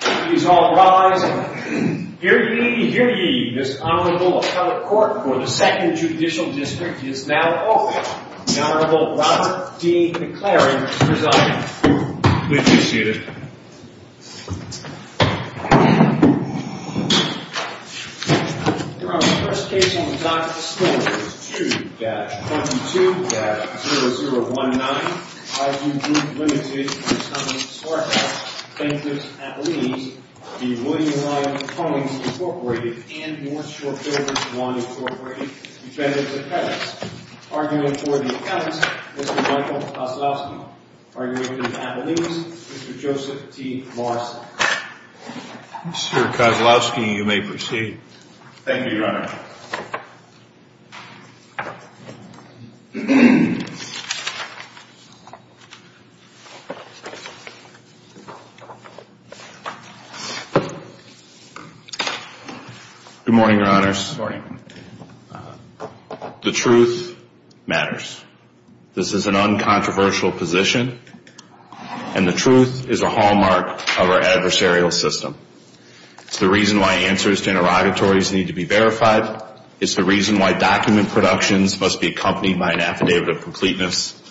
Please all rise and hear ye, hear ye. This Honorable Appellate Court for the 2nd Judicial District is now open. The Honorable Robert D. McClary is presiding. Please be seated. Your Honor, the first case on the docket this morning is 2-22-0019. Highview Group, Ltd. v. Simon Sarkis, plaintiff's appellees, v. William Ryan Homes, Inc. and North Shore Builders I, Inc., defendant's appellants. Arguing for the appellants, Mr. Michael Poslowski. Arguing for the appellees, Mr. Joseph T. Morrison. Mr. Poslowski, you may proceed. Thank you, Your Honor. Good morning, Your Honors. Good morning. The truth matters. This is an uncontroversial position, and the truth is a hallmark of our adversarial system. It's the reason why answers to interrogatories need to be verified. It's the reason why document productions must be accompanied by an affidavit of completeness.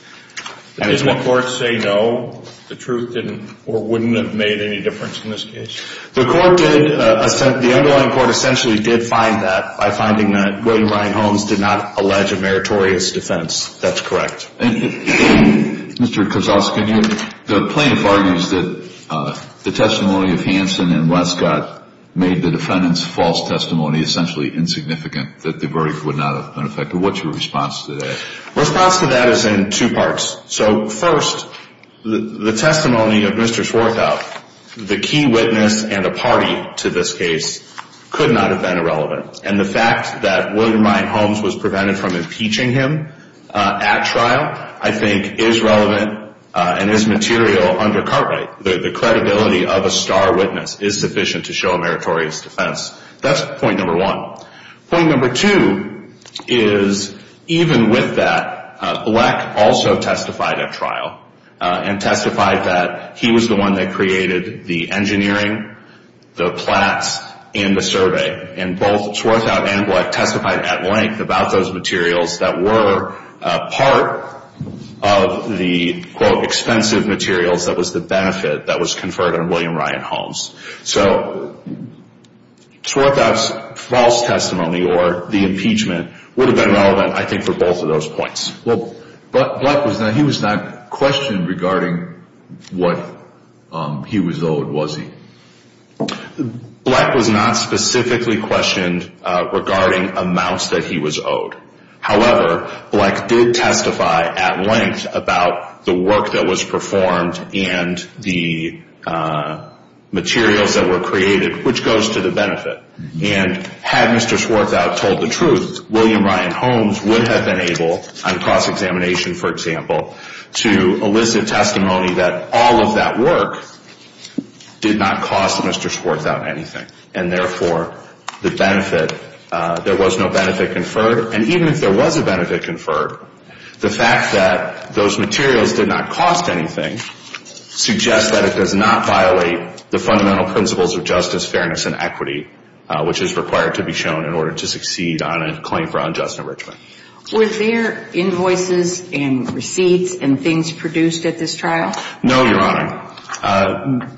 Did the court say no? The truth didn't or wouldn't have made any difference in this case? The underlying court essentially did find that by finding that William Ryan Homes did not allege a meritorious defense. That's correct. Thank you. Mr. Kosowski, the plaintiff argues that the testimony of Hanson and Westcott made the defendant's false testimony essentially insignificant, that the verdict would not have been effective. What's your response to that? Response to that is in two parts. So, first, the testimony of Mr. Swarthout, the key witness and a party to this case, could not have been irrelevant. And the fact that William Ryan Homes was prevented from impeaching him at trial, I think, is relevant and is material under Cartwright. The credibility of a star witness is sufficient to show a meritorious defense. That's point number one. Point number two is, even with that, Black also testified at trial and testified that he was the one that created the engineering, the plats, and the survey. And both Swarthout and Black testified at length about those materials that were part of the, quote, expensive materials that was the benefit that was conferred on William Ryan Homes. So, Swarthout's false testimony or the impeachment would have been relevant, I think, for both of those points. But Black was not, he was not questioned regarding what he was owed, was he? Black was not specifically questioned regarding amounts that he was owed. However, Black did testify at length about the work that was performed and the materials that were created, which goes to the benefit. And had Mr. Swarthout told the truth, William Ryan Homes would have been able, on cross-examination, for example, to elicit testimony that all of that work did not cost Mr. Swarthout anything. And therefore, the benefit, there was no benefit conferred. And even if there was a benefit conferred, the fact that those materials did not cost anything suggests that it does not violate the fundamental principles of justice, fairness, and equity, which is required to be shown in order to succeed on a claim for unjust enrichment. Were there invoices and receipts and things produced at this trial? No, Your Honor.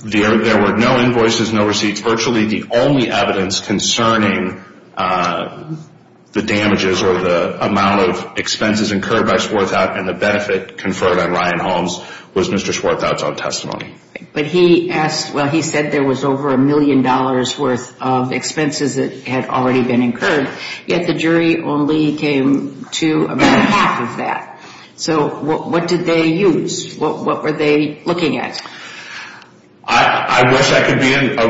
There were no invoices, no receipts. Virtually the only evidence concerning the damages or the amount of expenses incurred by Swarthout and the benefit conferred on Ryan Homes was Mr. Swarthout's own testimony. But he asked, well, he said there was over a million dollars' worth of expenses that had already been incurred, yet the jury only came to about half of that. So what did they use? What were they looking at? I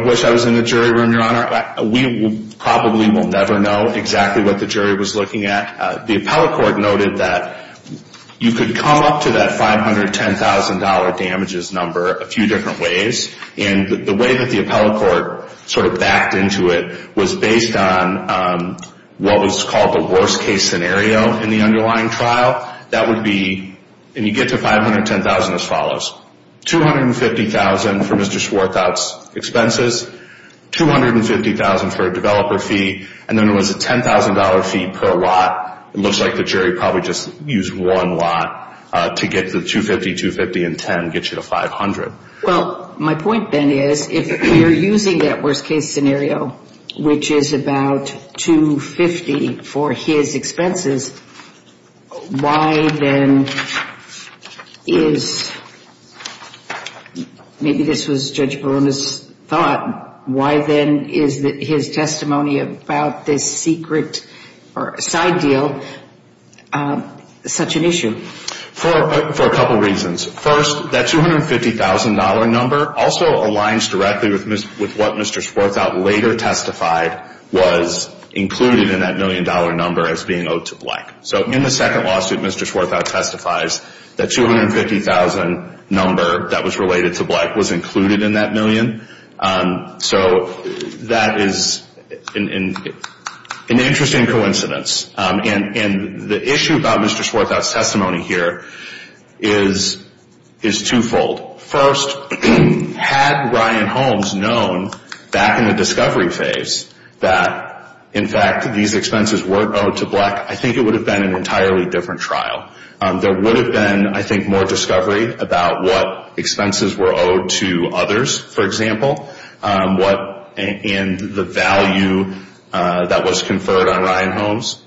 wish I was in the jury room, Your Honor. We probably will never know exactly what the jury was looking at. The appellate court noted that you could come up to that $510,000 damages number a few different ways. And the way that the appellate court sort of backed into it was based on what was called the worst-case scenario in the underlying trial. That would be, and you get to $510,000 as follows, $250,000 for Mr. Swarthout's expenses, $250,000 for a developer fee, and then there was a $10,000 fee per lot. It looks like the jury probably just used one lot to get to the $250,000, $250,000, and $10,000 to get you to $500,000. Well, my point then is if you're using that worst-case scenario, which is about $250,000 for his expenses, why then is, maybe this was Judge Barona's thought, why then is his testimony about this secret side deal such an issue? For a couple reasons. First, that $250,000 number also aligns directly with what Mr. Swarthout later testified was included in that million-dollar number as being owed to Black. So in the second lawsuit, Mr. Swarthout testifies that $250,000 number that was related to Black was included in that million. So that is an interesting coincidence. And the issue about Mr. Swarthout's testimony here is twofold. First, had Ryan Holmes known back in the discovery phase that, in fact, these expenses weren't owed to Black, I think it would have been an entirely different trial. There would have been, I think, more discovery about what expenses were owed to others, for example, and the value that was conferred on Ryan Holmes.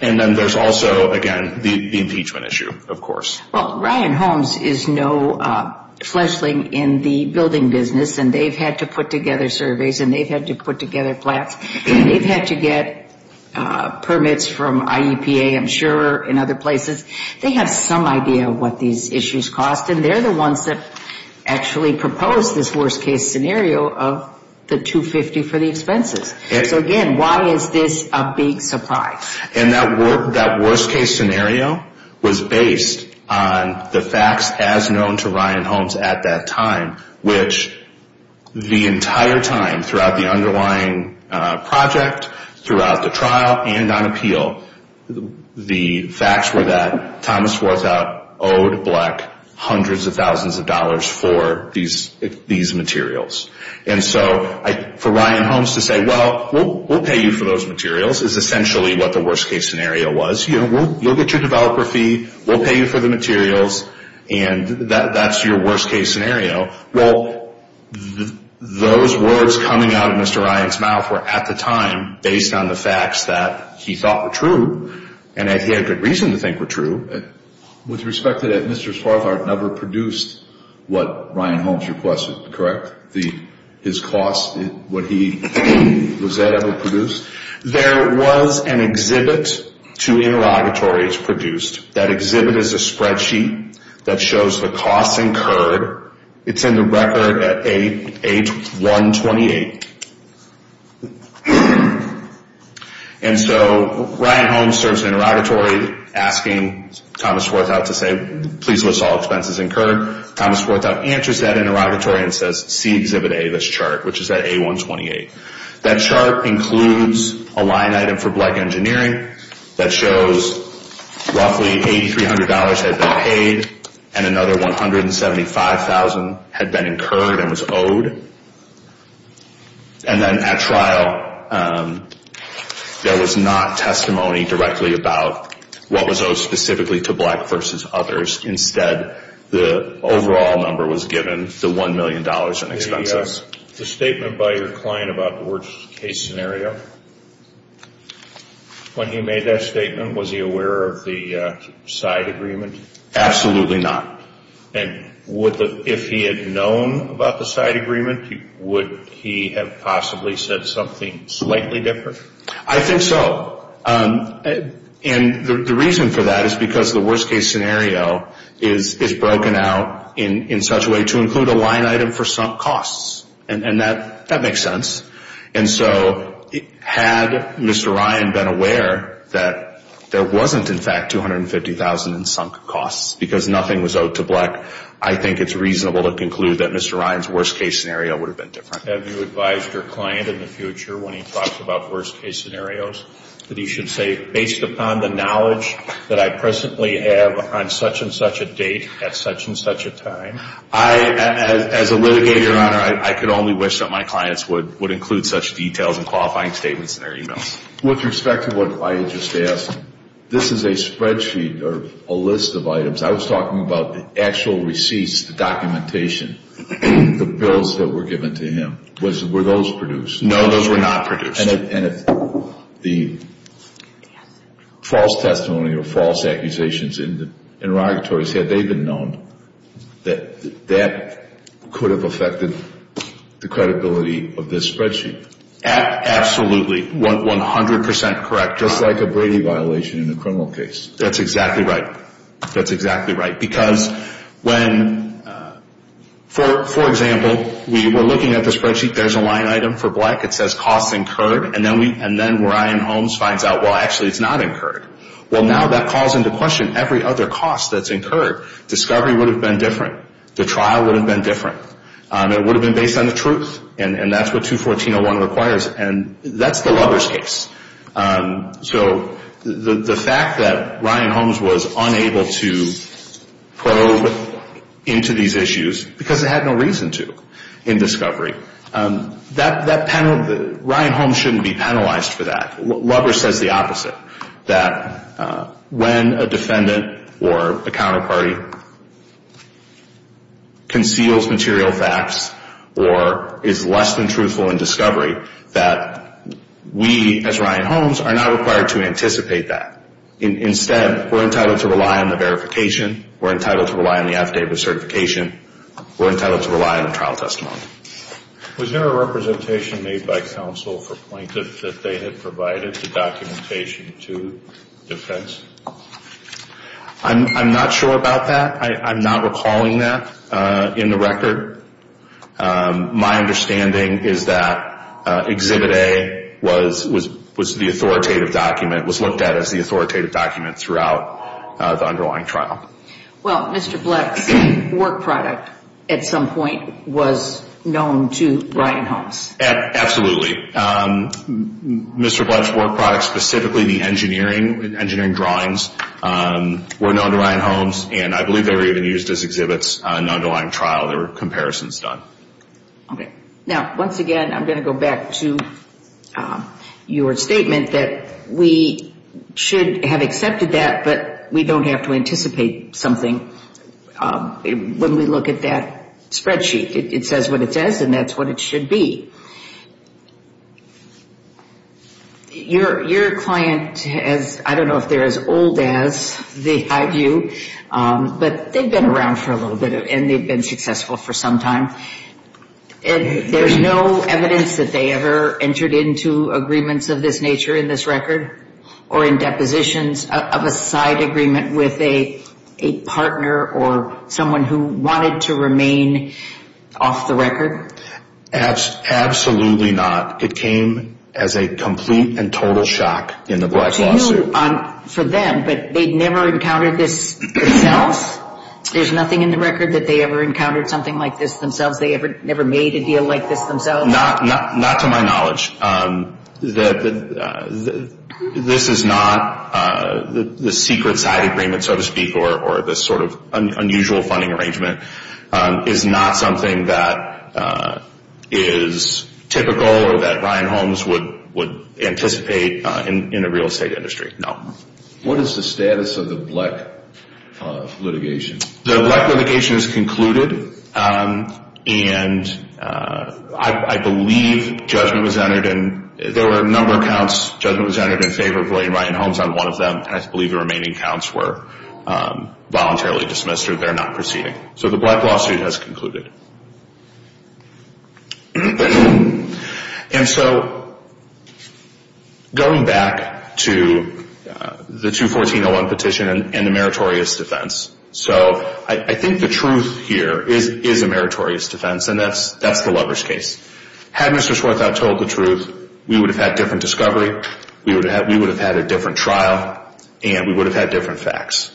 And then there's also, again, the impeachment issue, of course. Well, Ryan Holmes is no fleshling in the building business, and they've had to put together surveys, and they've had to put together plaques, and they've had to get permits from IEPA, I'm sure, and other places. They have some idea of what these issues cost, and they're the ones that actually proposed this worst-case scenario of the $250,000 for the expenses. So, again, why is this a big surprise? And that worst-case scenario was based on the facts as known to Ryan Holmes at that time, which the entire time throughout the underlying project, throughout the trial, and on appeal, the facts were that Thomas Worthout owed Black hundreds of thousands of dollars for these materials. And so for Ryan Holmes to say, well, we'll pay you for those materials, is essentially what the worst-case scenario was. You know, we'll get your developer fee, we'll pay you for the materials, and that's your worst-case scenario. Well, those words coming out of Mr. Ryan's mouth were, at the time, based on the facts that he thought were true, and that he had good reason to think were true. With respect to that, Mr. Swarthart never produced what Ryan Holmes requested, correct? His costs, was that ever produced? There was an exhibit to interrogatories produced. That exhibit is a spreadsheet that shows the costs incurred. It's in the record at A128. And so Ryan Holmes serves an interrogatory asking Thomas Worthout to say, please list all expenses incurred. Thomas Worthout answers that interrogatory and says, see exhibit A, this chart, which is at A128. That chart includes a line item for black engineering that shows roughly $8,300 had been paid, and another $175,000 had been incurred and was owed. And then at trial, there was not testimony directly about what was owed specifically to black versus others. Instead, the overall number was given, the $1 million in expenses. The statement by your client about the worst case scenario, when he made that statement, was he aware of the side agreement? Absolutely not. And if he had known about the side agreement, would he have possibly said something slightly different? I think so. And the reason for that is because the worst case scenario is broken out in such a way to include a line item for sunk costs. And that makes sense. And so had Mr. Ryan been aware that there wasn't, in fact, $250,000 in sunk costs because nothing was owed to black, I think it's reasonable to conclude that Mr. Ryan's worst case scenario would have been different. Have you advised your client in the future when he talks about worst case scenarios that he should say, based upon the knowledge that I presently have on such and such a date at such and such a time? As a litigator, Your Honor, I could only wish that my clients would include such details and qualifying statements in their emails. With respect to what I had just asked, this is a spreadsheet or a list of items. I was talking about the actual receipts, the documentation, the bills that were given to him. Were those produced? No, those were not produced. And if the false testimony or false accusations in the interrogatories, had they been known, that that could have affected the credibility of this spreadsheet? Absolutely, 100 percent correct. Just like a Brady violation in a criminal case. That's exactly right. That's exactly right. Because when, for example, we were looking at the spreadsheet, there's a line item for black. It says costs incurred. And then Ryan Holmes finds out, well, actually it's not incurred. Well, now that calls into question every other cost that's incurred. Discovery would have been different. The trial would have been different. It would have been based on the truth. And that's what 214.01 requires. And that's the lover's case. So the fact that Ryan Holmes was unable to probe into these issues, because it had no reason to, in discovery. Ryan Holmes shouldn't be penalized for that. Lover says the opposite. That when a defendant or a counterparty conceals material facts, or is less than truthful in discovery, that we, as Ryan Holmes, are not required to anticipate that. Instead, we're entitled to rely on the verification. We're entitled to rely on the affidavit of certification. We're entitled to rely on the trial testimony. Was there a representation made by counsel for plaintiff that they had provided the documentation to defense? I'm not sure about that. I'm not recalling that in the record. My understanding is that Exhibit A was the authoritative document, was looked at as the authoritative document throughout the underlying trial. Well, Mr. Bleck's work product, at some point, was known to Ryan Holmes. Absolutely. Mr. Bleck's work product, specifically the engineering drawings, were known to Ryan Holmes. And I believe they were even used as exhibits in the underlying trial. There were comparisons done. Okay. Now, once again, I'm going to go back to your statement that we should have accepted that, but we don't have to anticipate something when we look at that spreadsheet. It says what it says, and that's what it should be. Your client has, I don't know if they're as old as the high view, but they've been around for a little bit, and they've been successful for some time. And there's no evidence that they ever entered into agreements of this nature in this record or in depositions of a side agreement with a partner or someone who wanted to remain off the record? Absolutely not. It came as a complete and total shock in the Bleck's lawsuit. To you, for them, but they'd never encountered this themselves? There's nothing in the record that they ever encountered something like this themselves? They ever made a deal like this themselves? Not to my knowledge. This is not the secret side agreement, so to speak, or this sort of unusual funding arrangement. It's not something that is typical or that Ryan Holmes would anticipate in a real estate industry, no. What is the status of the Bleck litigation? The Bleck litigation is concluded, and I believe judgment was entered in favor of William Ryan Holmes on one of them. I believe the remaining counts were voluntarily dismissed or they're not proceeding. So the Bleck lawsuit has concluded. And so going back to the 214-01 petition and the meritorious defense. So I think the truth here is a meritorious defense, and that's the lover's case. Had Mr. Swarthout told the truth, we would have had different discovery, we would have had a different trial, and we would have had different facts.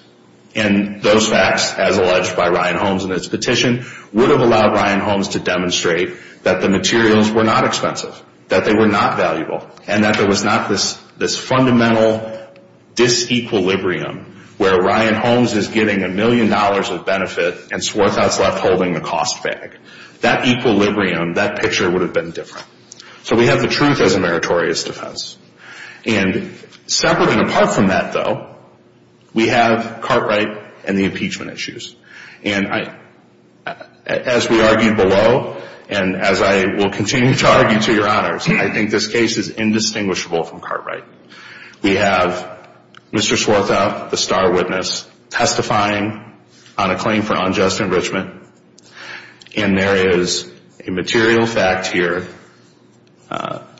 And those facts, as alleged by Ryan Holmes in his petition, would have allowed Ryan Holmes to demonstrate that the materials were not expensive, that they were not valuable, and that there was not this fundamental disequilibrium where Ryan Holmes is getting a million dollars of benefit and Swarthout's left holding the cost bag. That equilibrium, that picture would have been different. So we have the truth as a meritorious defense. And separate and apart from that, though, we have Cartwright and the impeachment issues. And as we argued below, and as I will continue to argue to your honors, I think this case is indistinguishable from Cartwright. We have Mr. Swarthout, the star witness, testifying on a claim for unjust enrichment, and there is a material fact here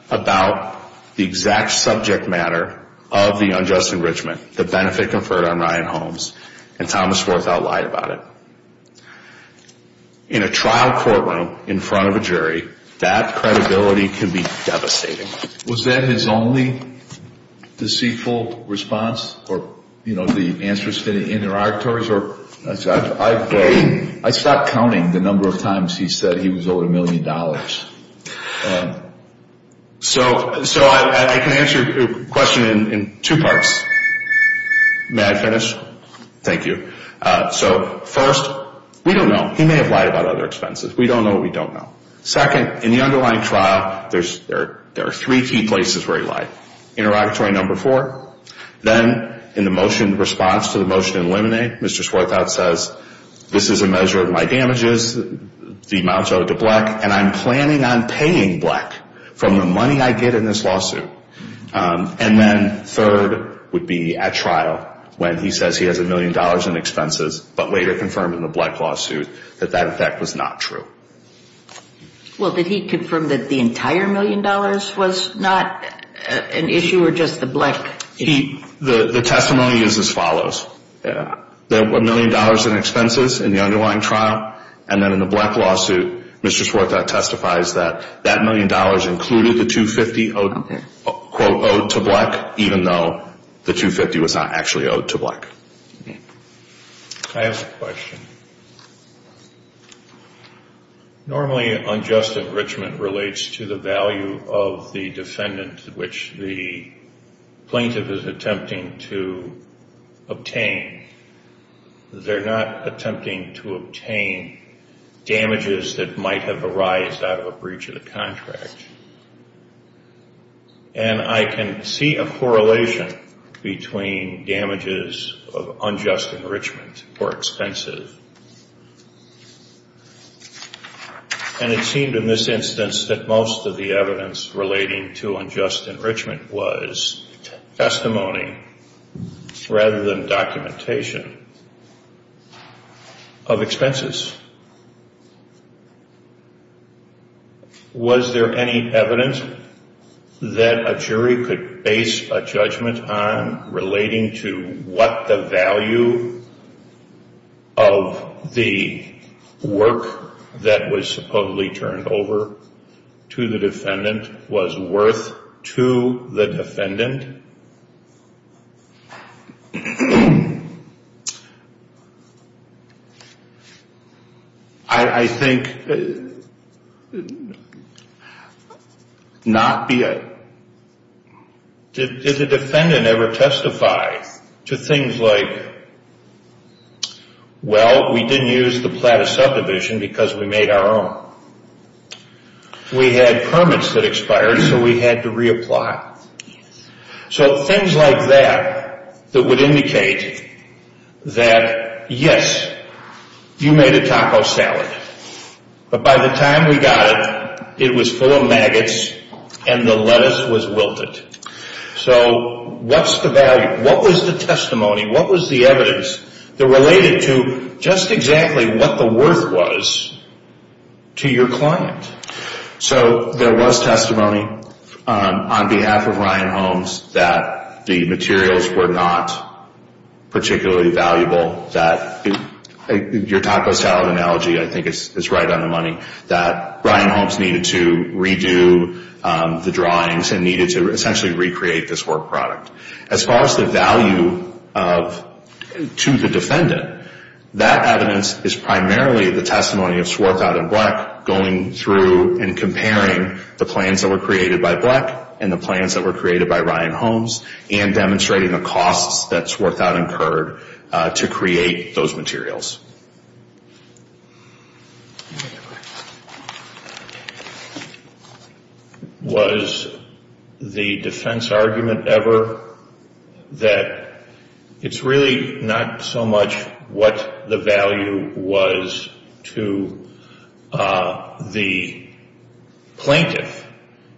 about the exact subject matter of the unjust enrichment, the benefit conferred on Ryan Holmes, and Thomas Swarthout lied about it. In a trial courtroom in front of a jury, that credibility can be devastating. So was that his only deceitful response or, you know, the answers to the interrogatories? I stopped counting the number of times he said he was owed a million dollars. So I can answer your question in two parts. May I finish? Thank you. So first, we don't know. He may have lied about other expenses. We don't know what we don't know. Second, in the underlying trial, there are three key places where he lied. Interrogatory number four. Then in the motion response to the motion to eliminate, Mr. Swarthout says, this is a measure of my damages, the amount owed to Black, and I'm planning on paying Black from the money I get in this lawsuit. And then third would be at trial when he says he has a million dollars in expenses, but later confirmed in the Black lawsuit that that, in fact, was not true. Well, did he confirm that the entire million dollars was not an issue or just the Black issue? The testimony is as follows. There were a million dollars in expenses in the underlying trial, and then in the Black lawsuit, Mr. Swarthout testifies that that million dollars included the 250, quote, owed to Black, even though the 250 was not actually owed to Black. I have a question. Normally unjust enrichment relates to the value of the defendant which the plaintiff is attempting to obtain. They're not attempting to obtain damages that might have arised out of a breach of the contract. And I can see a correlation between damages of unjust enrichment or expenses. And it seemed in this instance that most of the evidence relating to unjust enrichment was testimony rather than documentation. Of expenses. Was there any evidence that a jury could base a judgment on relating to what the value of the work that was supposedly turned over to the defendant was worth to the defendant? I think not be a... Did the defendant ever testify to things like, well, we didn't use the plat of subdivision because we made our own. We had permits that expired, so we had to reapply. So things like that that would indicate that, yes, you made a taco salad. But by the time we got it, it was full of maggots and the lettuce was wilted. So what's the value? What was the testimony, what was the evidence that related to just exactly what the worth was to your client? So there was testimony on behalf of Ryan Holmes that the materials were not particularly valuable. That your taco salad analogy, I think, is right on the money. That Ryan Holmes needed to redo the drawings and needed to essentially recreate this work product. As far as the value to the defendant, that evidence is primarily the testimony of Swarthout and Bleck going through the process of going through and comparing the plans that were created by Bleck and the plans that were created by Ryan Holmes, and demonstrating the costs that Swarthout incurred to create those materials. Was the defense argument ever that it's really not so much what the value was to the client, but the plaintiff,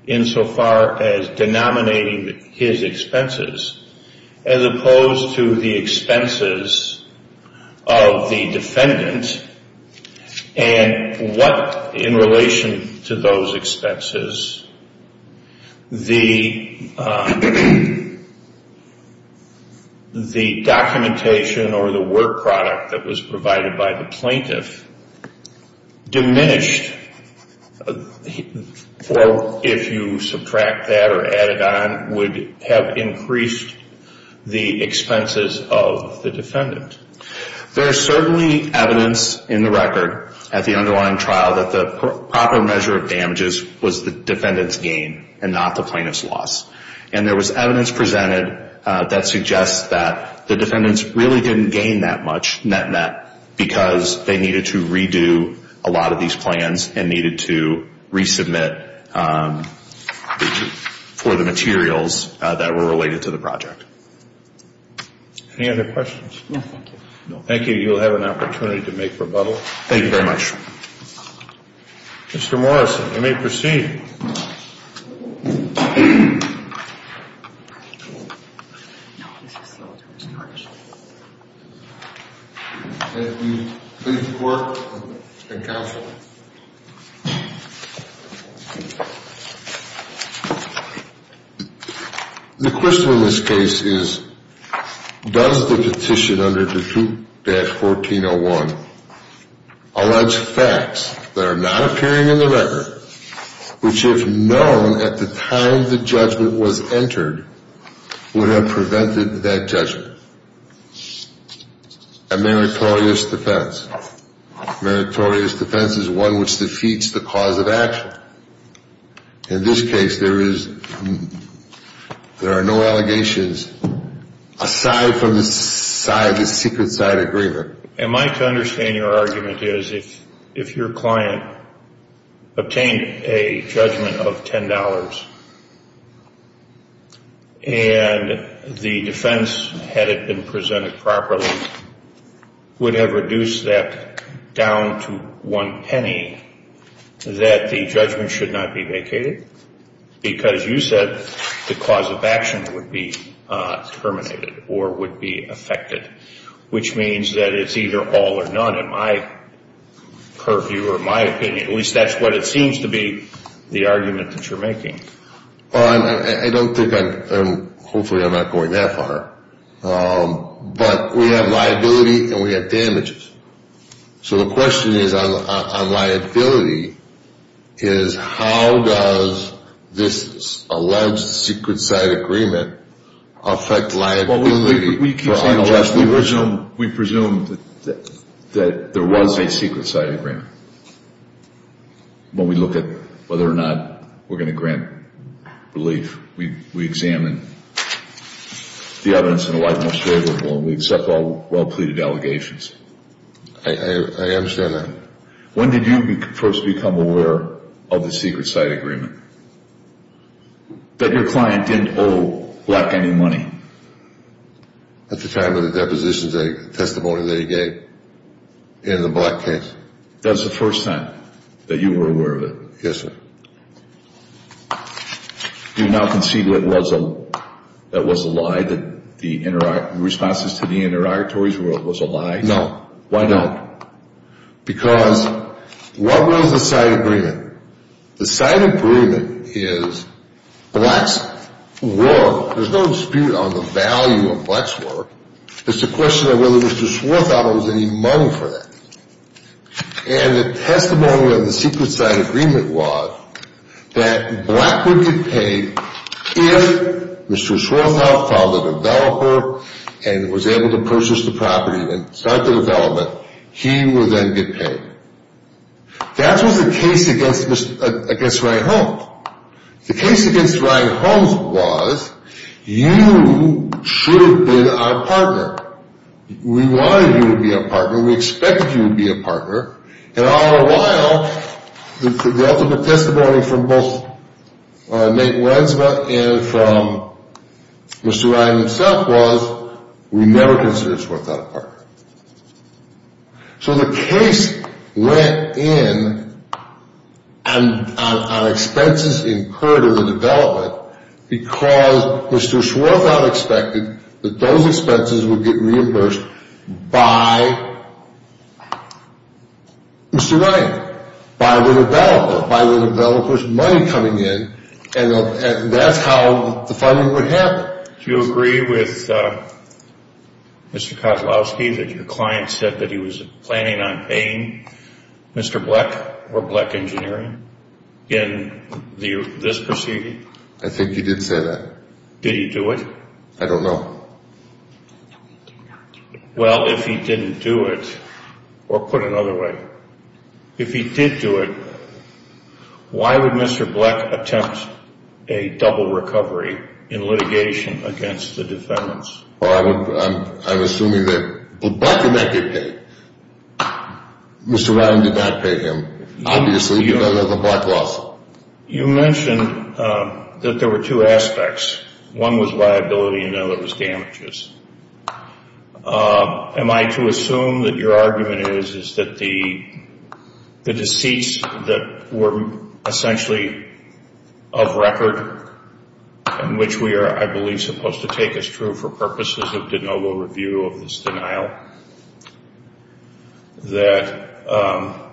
insofar as denominating his expenses, as opposed to the expenses of the defendant, and what, in relation to those expenses, the documentation or the work product that was provided by the plaintiff diminished or, if you subtract that or add it on, would have increased the expenses of the defendant? There's certainly evidence in the record at the underlying trial that the proper measure of damages was the defendant's gain and not the plaintiff's loss. And there was evidence presented that suggests that the defendants really didn't gain that much net-net in terms of the damages that were incurred by the plaintiff, and that the plaintiff didn't lose that much net-net in terms of the damages that were incurred by the plaintiff. So I think that's a good point. I think that's a good point. Thank you. Please report and counsel. The question in this case is, does the petition under Defute-1401 allege facts that are not appearing in the record, which, if known at the time the judgment was entered, would have prevented that judgment? A meritorious defense. A meritorious defense is one which defeats the cause of action. In this case, there are no allegations aside from the secret side agreement. Am I to understand your argument is, if your client obtained a judgment of $10, and the defense, had it been presented properly, would have reduced that down to one penny, that the judgment should not be vacated? Because you said the cause of action would be terminated or would be affected, which means that it's either all or none in my purview or my opinion. At least that's what it seems to be the argument that you're making. I don't think I'm, hopefully I'm not going that far. But we have liability and we have damages. So the question on liability is, how does this alleged secret side agreement affect liability? We presume that there was a secret side agreement. When we look at whether or not we're going to grant relief, we examine the evidence in the light most favorable and we accept all well pleaded allegations. I understand that. When did you first become aware of the secret side agreement? That your client didn't owe black any money? At the time of the depositions, the testimony that he gave in the black case. That was the first time that you were aware of it? Yes, sir. Do you now concede that was a lie, that the responses to the interrogatories was a lie? No. Why don't? Because what was the side agreement? The side agreement is black's work. There's no dispute on the value of black's work. It's a question of whether Mr. Swarthout owes any money for that. And the testimony of the secret side agreement was that black would get paid if Mr. Swarthout found a developer and was able to purchase the property and start the development, he would then get paid. That was the case against Ryan Holmes. The case against Ryan Holmes was, you should have been our partner. We wanted you to be our partner. We expected you to be our partner. And all the while, the ultimate testimony from both Nate Wensma and from Mr. Ryan himself was, we never considered Swarthout a partner. So the case went in on expenses incurred in the development because Mr. Swarthout expected that those expenses would get reimbursed by Mr. Ryan, by the developer, by the developer's money coming in, and that's how the funding would happen. Do you agree with Mr. Kozlowski that your client said that he was planning on paying Mr. Black or Black Engineering in this proceeding? I think he did say that. Did he do it? I don't know. Well, if he didn't do it, or put another way, if he did do it, why would Mr. Black attempt a double recovery in litigation against the defendants? I'm assuming that Black did not get paid. Mr. Ryan did not pay him, obviously, because of the Black lawsuit. You mentioned that there were two aspects. One was liability and the other was damages. Am I to assume that your argument is that the deceits that were essentially of record, and which we are, I believe, supposed to take as true for purposes of de novo review of this denial, that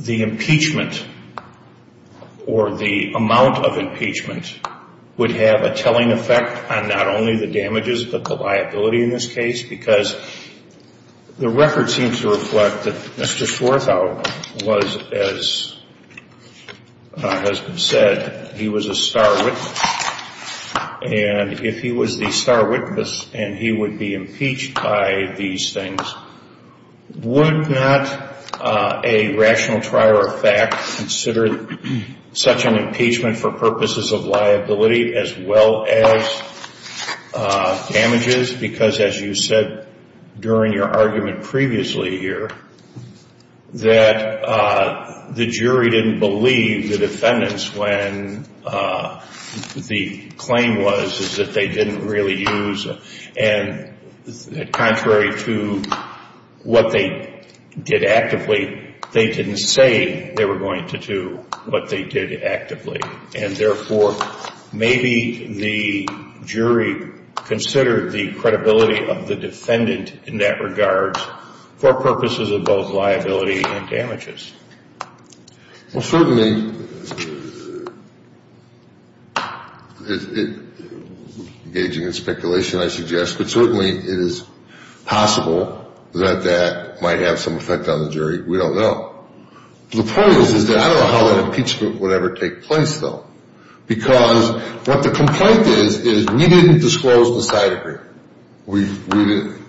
the impeachment or the amount of impeachment would have a telling effect on not only the damages but the liability in this case? Because the record seems to reflect that Mr. Swarthout was, as has been said, he was a star witness. And if he was the star witness and he would be impeached by these things, would not a rational trier of fact consider such an impeachment for purposes of liability as well as damages? Just because, as you said during your argument previously here, that the jury didn't believe the defendants when the claim was that they didn't really use, and contrary to what they did actively, they didn't say they were going to do what they did actively. And therefore, maybe the jury considered the credibility of the defendant in that regard for purposes of both liability and damages. Well, certainly, engaging in speculation, I suggest, but certainly it is possible that that might have some effect on the jury. We don't know. The point is that I don't know how that impeachment would ever take place, though, because what the complaint is, is we didn't disclose the side agreement. We didn't.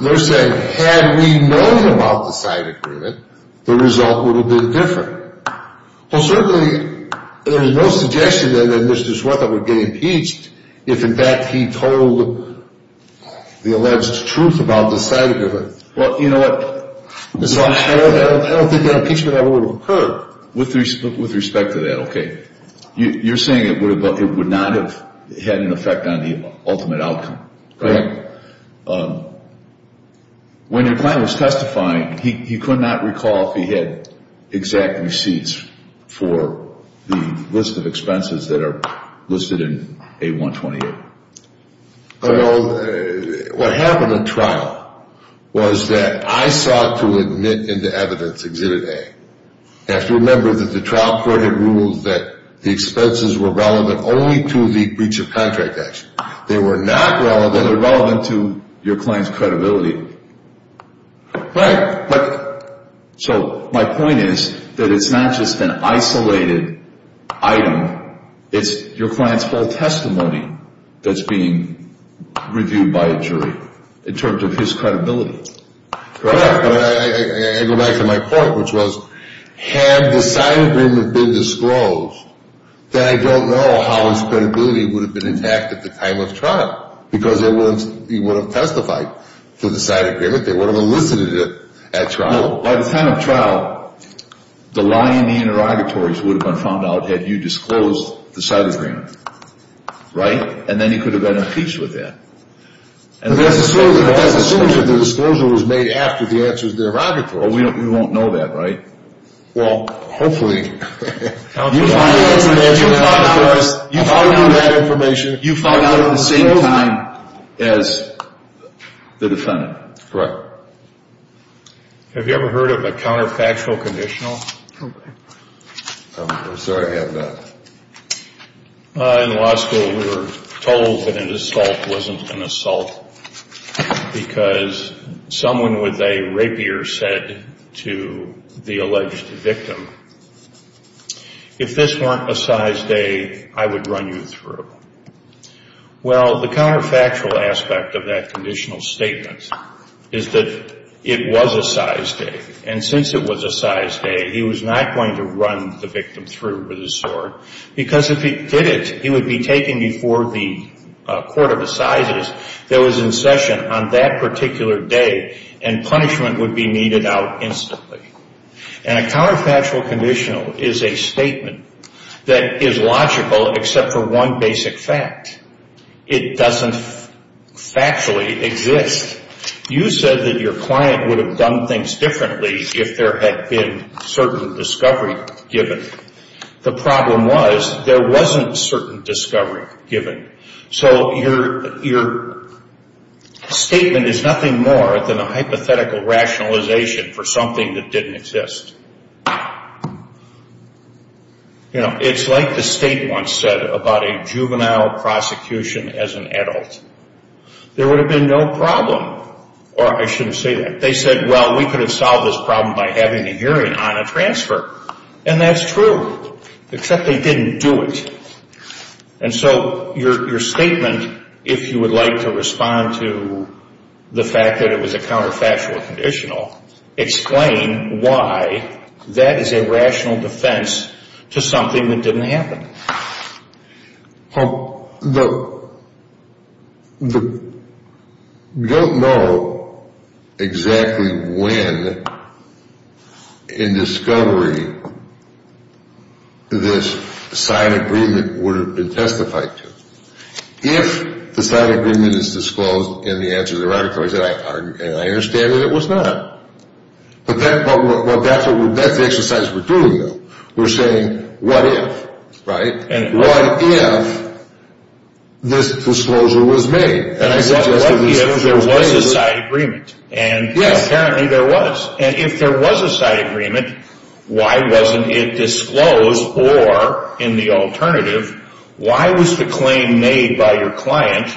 They're saying, had we known about the side agreement, the result would have been different. Well, certainly, there is no suggestion that Mr. Swarthout would get impeached if, in fact, he told the alleged truth about the side agreement. Well, you know what? I don't think that impeachment ever would have occurred. With respect to that, okay. You're saying it would not have had an effect on the ultimate outcome. Right. When your client was testifying, he could not recall if he had exact receipts for the list of expenses that are listed in A128. Well, what happened in trial was that I sought to admit into evidence Exhibit A. You have to remember that the trial court had ruled that the expenses were relevant only to the breach of contract action. They were not relevant to your client's credibility. Right. So my point is that it's not just an isolated item. It's your client's full testimony that's being reviewed by a jury in terms of his credibility. Correct. I go back to my point, which was, had the side agreement been disclosed, then I don't know how his credibility would have been intact at the time of trial because he would have testified to the side agreement. They would have elicited it at trial. By the time of trial, the lie in the interrogatories would have been found out had you disclosed the side agreement. Right? And then he could have been impeached with that. But that's assumed that the disclosure was made after the answer to the interrogatory. Well, we won't know that, right? Well, hopefully. You found out at the same time as the defendant. Correct. Have you ever heard of a counterfactual conditional? I'm sorry, I have not. In law school, we were told that an assault wasn't an assault because someone with a rapier said to the alleged victim, if this weren't a size A, I would run you through. Well, the counterfactual aspect of that conditional statement is that it was a size A. And since it was a size A, he was not going to run the victim through with his sword because if he did it, he would be taken before the court of assizes that was in session on that particular day, and punishment would be needed out instantly. And a counterfactual conditional is a statement that is logical except for one basic fact. It doesn't factually exist. You said that your client would have done things differently if there had been certain discovery given. The problem was there wasn't certain discovery given. So your statement is nothing more than a hypothetical rationalization for something that didn't exist. It's like the state once said about a juvenile prosecution as an adult. There would have been no problem. Or I shouldn't say that. They said, well, we could have solved this problem by having a hearing on a transfer. And that's true, except they didn't do it. And so your statement, if you would like to respond to the fact that it was a rational defense to something that didn't happen. Well, we don't know exactly when in discovery this signed agreement would have been testified to. If the signed agreement is disclosed and the answer is erratic, I understand that it was not. But that's the exercise we're doing, though. We're saying what if, right? What if this disclosure was made? What if there was a signed agreement? And apparently there was. And if there was a signed agreement, why wasn't it disclosed? Or in the alternative, why was the claim made by your client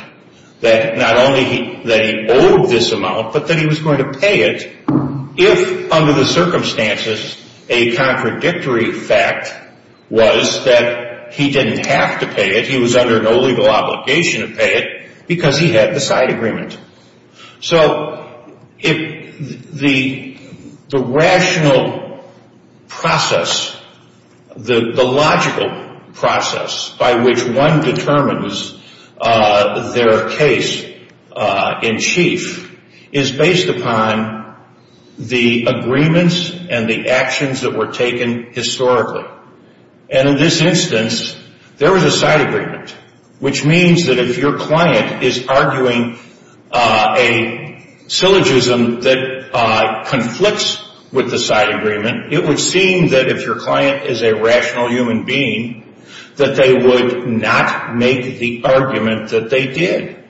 that not only that he owed this amount, but that he was going to pay it if, under the circumstances, a contradictory fact was that he didn't have to pay it. He was under no legal obligation to pay it because he had the signed agreement. So the rational process, the logical process by which one determines their case in chief, is based upon the agreements and the actions that were taken historically. And in this instance, there was a signed agreement, which means that if your client is arguing a syllogism that conflicts with the signed agreement, it would seem that if your client is a rational human being, that they would not make the argument that they did.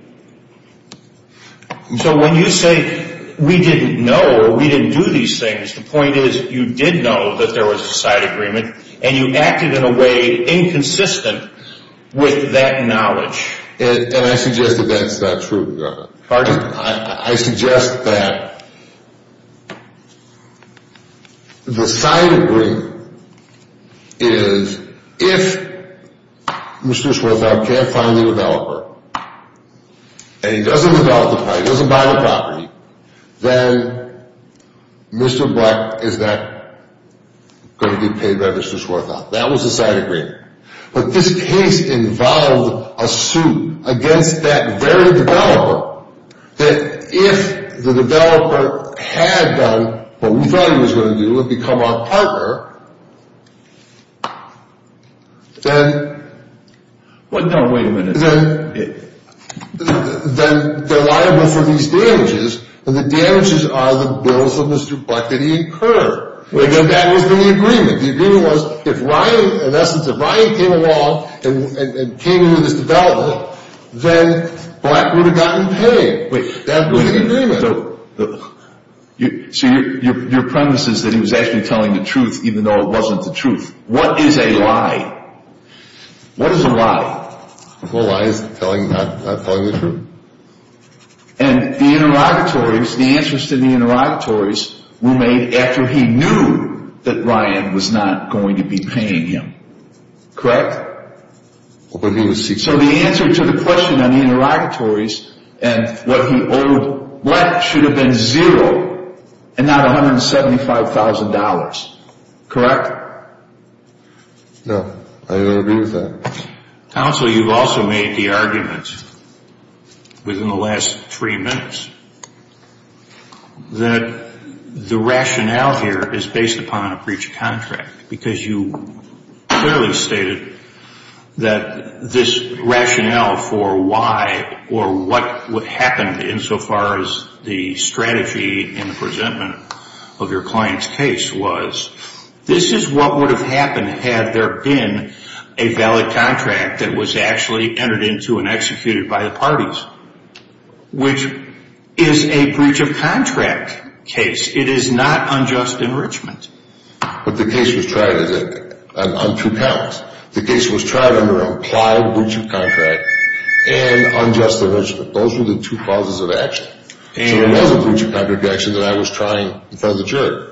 So when you say we didn't know or we didn't do these things, the point is you did know that there was a signed agreement and you acted in a way inconsistent with that knowledge. And I suggest that that's not true. Pardon? I suggest that the signed agreement is if Mr. Schwartzbock can't find the developer and he doesn't develop the property, doesn't buy the property, then Mr. Buck is not going to be paid by Mr. Schwartzbock. That was the signed agreement. But this case involved a suit against that very developer that if the developer had done what we thought he was going to do and become our partner, then... No, wait a minute. Then they're liable for these damages, and the damages are the bills of Mr. Buck that he incurred. Wait a minute. And that was the agreement. The agreement was if Ryan, in essence, if Ryan came along and came into this development, then Buck would have gotten paid. Wait a minute. That would be the agreement. So your premise is that he was actually telling the truth even though it wasn't the truth. What is a lie? What is a lie? A lie is not telling the truth. And the interrogatories, the answers to the interrogatories were made after he knew that Ryan was not going to be paying him. Correct? So the answer to the question on the interrogatories and what he owed Buck should have been zero and not $175,000. Correct? No. I don't agree with that. Counsel, you've also made the argument within the last three minutes that the rationale here is based upon a breach of contract because you clearly stated that this rationale for why or what happened insofar as the strategy and the presentment of your client's case was this is what would have happened had there been a valid contract that was actually entered into and executed by the parties, which is a breach of contract case. It is not unjust enrichment. But the case was tried on two counts. The case was tried under implied breach of contract and unjust enrichment. Those were the two causes of action. So it was a breach of contract action that I was trying in front of the jury.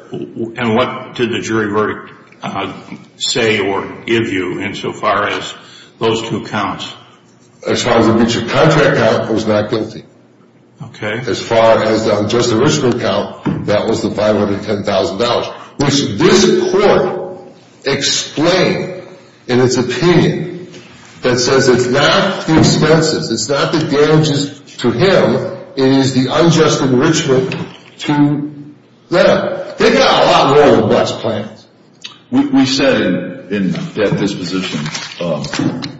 And what did the jury verdict say or give you insofar as those two counts? As far as the breach of contract count, I was not guilty. Okay. As far as the unjust enrichment count, that was the $510,000. Which this court explained in its opinion that says it's not the expenses, it's not the damages to him. It is the unjust enrichment to them. They got a lot more than what's planned. We said in that disposition,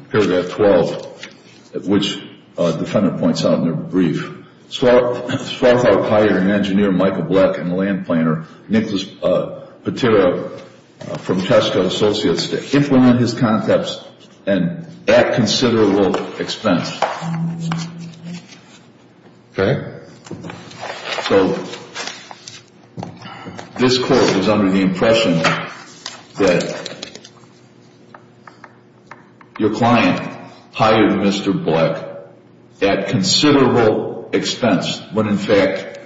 paragraph 12, which the defendant points out in their brief, Swarthout hired an engineer, Michael Bleck, and land planner, Nicholas Patera, from Tesco Associates to implement his concepts at considerable expense. Okay? So this court was under the impression that your client hired Mr. Bleck at considerable expense, when in fact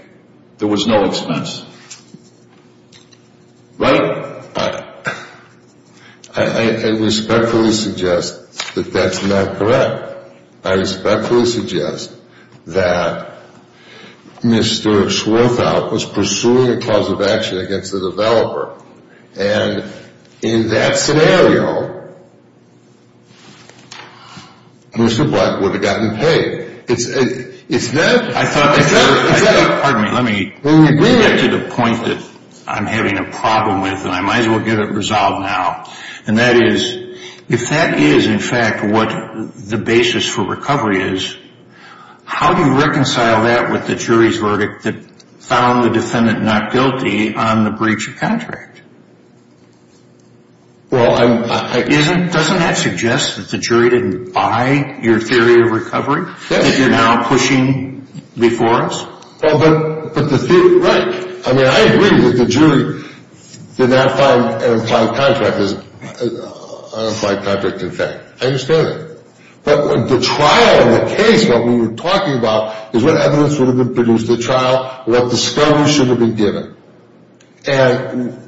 there was no expense. Right? I respectfully suggest that that's not correct. I respectfully suggest that Mr. Swarthout was pursuing a cause of action against the developer. And in that scenario, Mr. Bleck would have gotten paid. It's that. I thought. Pardon me. Let me bring it to the point that I'm having a problem with, and I might as well get it resolved now. And that is, if that is in fact what the basis for recovery is, how do you reconcile that with the jury's verdict that found the defendant not guilty on the breach of contract? Well, I'm. Doesn't that suggest that the jury didn't buy your theory of recovery? That you're now pushing before us? Well, but the theory. Right. I mean, I agree that the jury did not find an implied contract as an implied contract, in fact. I understand that. But the trial and the case, what we were talking about, is what evidence would have been produced at trial, what discovery should have been given. And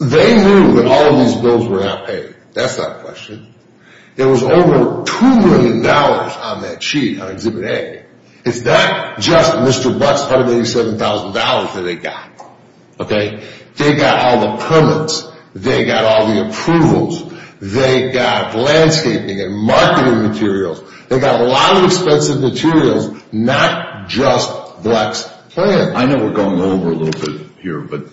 they knew that all of these bills were not paid. That's not a question. There was over $2 million on that sheet, on Exhibit A. It's not just Mr. Bleck's $187,000 that they got, okay? They got all the permits. They got all the approvals. They got landscaping and marketing materials. They got a lot of expensive materials, not just Bleck's plan. I know we're going over a little bit here, but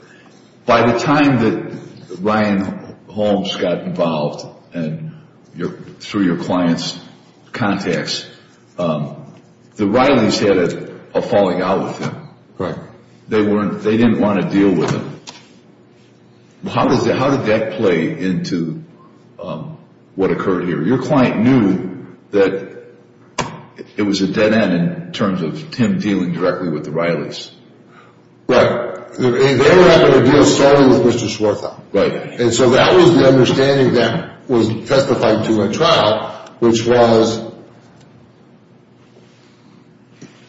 by the time that Ryan Holmes got involved through your client's contacts, the Reillys had a falling out with him. Right. They didn't want to deal with him. How did that play into what occurred here? Your client knew that it was a dead end in terms of him dealing directly with the Reillys. Right. They were not going to deal solely with Mr. Swarthout. Right. And so that was the understanding that was testified to at trial, which was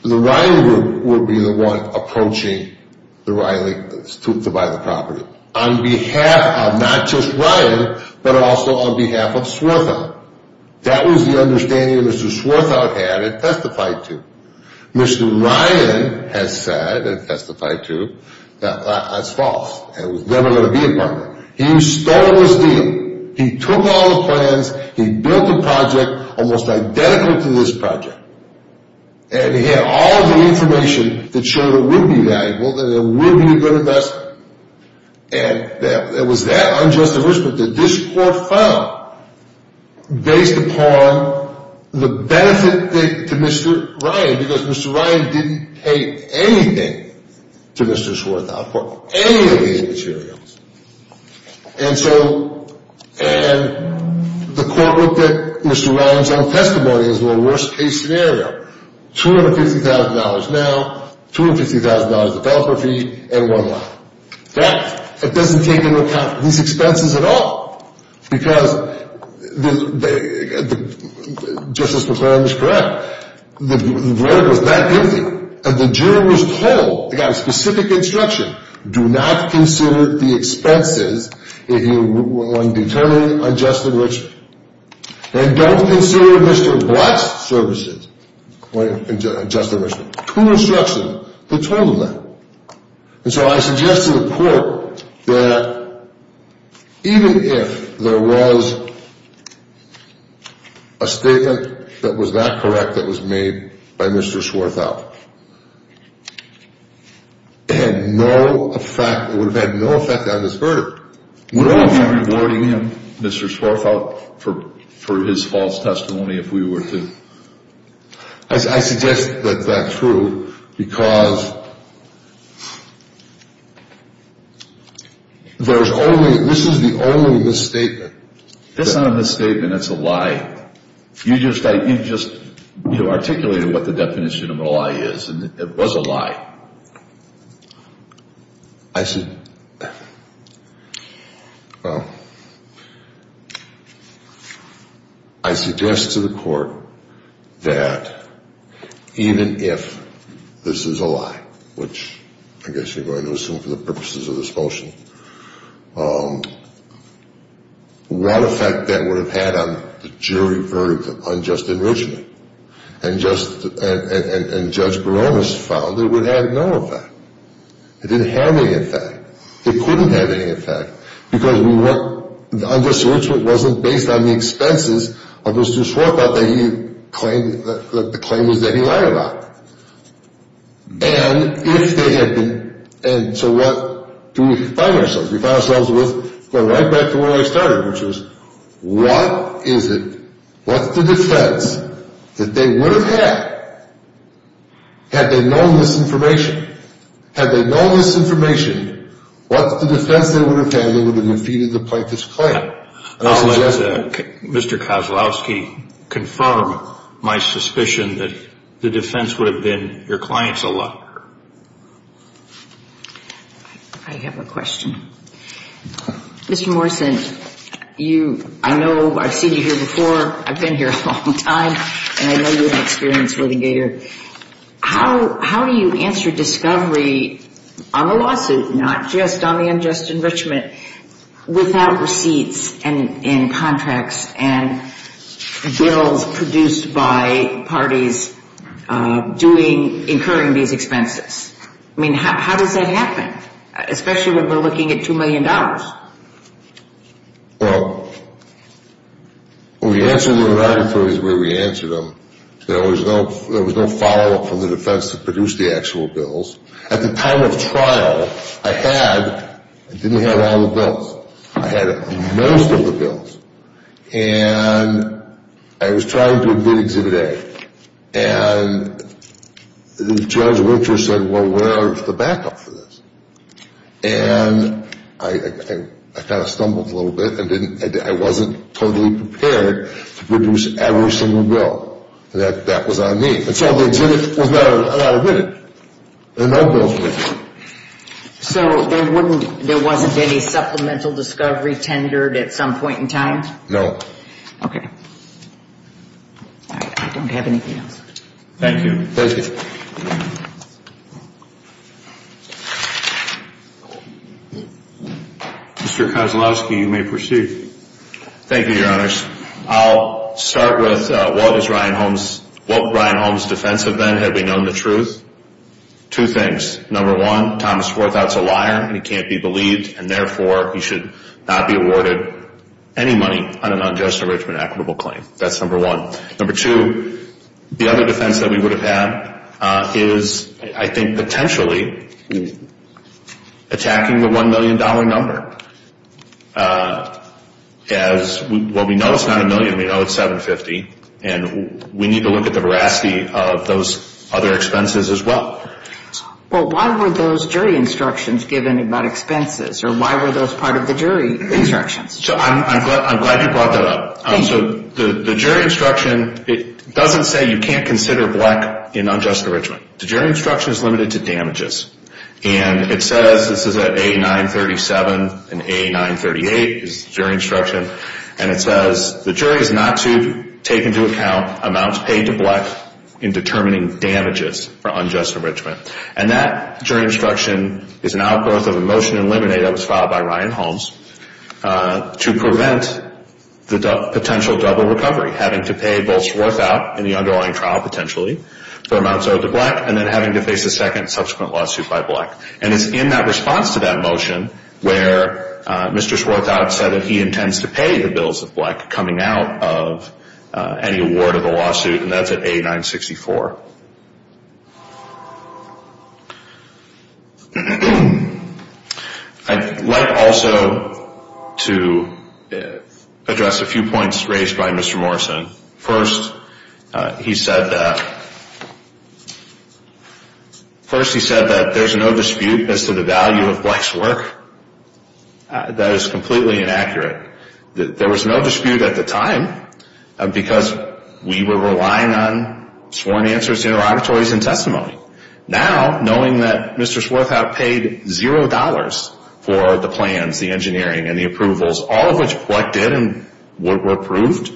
the Ryan Group would be the one approaching the Reillys to buy the property, on behalf of not just Ryan, but also on behalf of Swarthout. That was the understanding that Mr. Swarthout had and testified to. Mr. Ryan has said and testified to that that's false and was never going to be a partner. He stole his deal. He took all the plans. He built a project almost identical to this project, and he had all the information that showed it would be valuable and it would be a good investment. And it was that unjust enrichment that this court found based upon the benefit to Mr. Ryan, because Mr. Ryan didn't pay anything to Mr. Swarthout for any of the materials. And so the court looked at Mr. Ryan's own testimony as a worst-case scenario, $250,000 now, $250,000 of property, and one line. That doesn't take into account these expenses at all, because Justice McClaren is correct. The verdict was not guilty, and the jury was told, they got a specific instruction, do not consider the expenses if you are going to determine unjust enrichment. And don't consider Mr. Black's services unjust enrichment. True instruction. They told them that. And so I suggest to the court that even if there was a statement that was that correct that was made by Mr. Swarthout, it had no effect, it would have had no effect on this verdict. We would all be rewarding him, Mr. Swarthout, for his false testimony if we were to. I suggest that that's true, because there's only, this is the only misstatement. It's not a misstatement, it's a lie. You just articulated what the definition of a lie is, and it was a lie. I suggest to the court that even if this is a lie, which I guess you're going to assume for the purposes of this motion, what effect that would have had on the jury verdict of unjust enrichment, and Judge Barones found it would have no effect. It didn't have any effect. It couldn't have any effect, because the unjust enrichment wasn't based on the expenses of Mr. Swarthout, that he claimed was that he lied about. And if they had been, and so what do we find ourselves? We find ourselves with, going right back to where I started, which is, what is it, what's the defense that they would have had had they known this information? Had they known this information, what's the defense they would have had they would have defeated the plaintiff's claim? I suggest that Mr. Kozlowski confirm my suspicion that the defense would have been your client's allotment. I have a question. Mr. Morrison, I know I've seen you here before. I've been here a long time, and I know you have experience with the Gator. How do you answer discovery on the lawsuit, not just on the unjust enrichment, without receipts and contracts and bills produced by parties incurring these expenses? I mean, how does that happen? Especially when we're looking at $2 million. Well, when we answered them at our attorneys where we answered them, there was no follow-up from the defense that produced the actual bills. At the time of trial, I had, I didn't have all the bills. I had most of the bills. And I was trying to admit exhibit A. And the judge of interest said, well, where is the backup for this? And I kind of stumbled a little bit. I wasn't totally prepared to produce every single bill that was on me. And so the exhibit was not admitted, and no bills were admitted. So there wasn't any supplemental discovery tendered at some point in time? No. Okay. I don't have anything else. Thank you. Thank you. Mr. Kozlowski, you may proceed. Thank you, Your Honors. I'll start with what was Ryan Holmes, what Ryan Holmes' defense had been had we known the truth. Two things. Number one, Thomas Forthout's a liar, and he can't be believed, and therefore he should not be awarded any money on an unjust enrichment equitable claim. That's number one. Number two, the other defense that we would have had is, I think, potentially attacking the $1 million number. As what we know is not a million, we know it's $750,000, and we need to look at the veracity of those other expenses as well. Well, why were those jury instructions given about expenses, or why were those part of the jury instructions? I'm glad you brought that up. So the jury instruction, it doesn't say you can't consider black in unjust enrichment. The jury instruction is limited to damages. And it says, this is at A937 and A938 is the jury instruction, and it says the jury is not to take into account amounts paid to black in determining damages for unjust enrichment. And that jury instruction is an outgrowth of a motion in limine that was filed by Ryan Holmes to prevent the potential double recovery, having to pay both Forthout in the underlying trial potentially for amounts owed to black, and then having to face a second subsequent lawsuit by black. And it's in that response to that motion where Mr. Forthout said that he intends to pay the bills of black coming out of any award of the lawsuit, and that's at A964. I'd like also to address a few points raised by Mr. Morrison. First, he said that there's no dispute as to the value of black's work. That is completely inaccurate. There was no dispute at the time because we were relying on sworn answers, interrogatories, and testimony. Now, knowing that Mr. Forthout paid $0 for the plans, the engineering, and the approvals, all of which collected and were approved,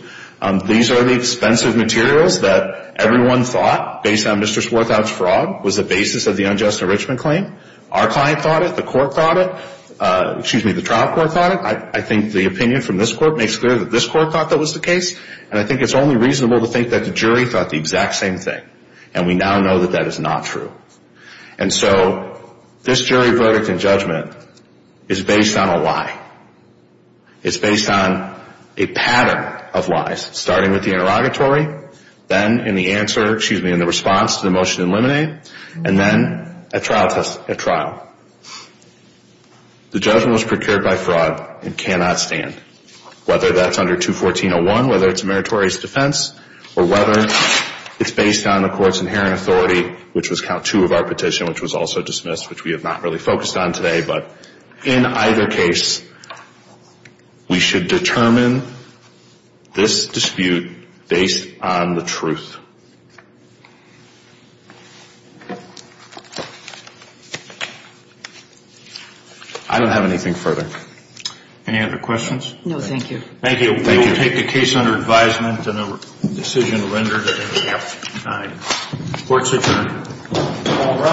these are the expensive materials that everyone thought, based on Mr. Forthout's fraud, was the basis of the unjust enrichment claim. Our client thought it. The court thought it. Excuse me, the trial court thought it. I think the opinion from this court makes clear that this court thought that was the case, and I think it's only reasonable to think that the jury thought the exact same thing. And we now know that that is not true. And so this jury verdict and judgment is based on a lie. It's based on a pattern of lies, starting with the interrogatory, then in the response to the motion to eliminate, and then a trial test at trial. The judgment was procured by fraud and cannot stand. Whether that's under 214.01, whether it's a meritorious defense, or whether it's based on the court's inherent authority, which was count two of our petition, which was also dismissed, which we have not really focused on today, but in either case, we should determine this dispute based on the truth. I don't have anything further. Any other questions? No, thank you. Thank you. We will take the case under advisement and a decision rendered in the court's adjournment.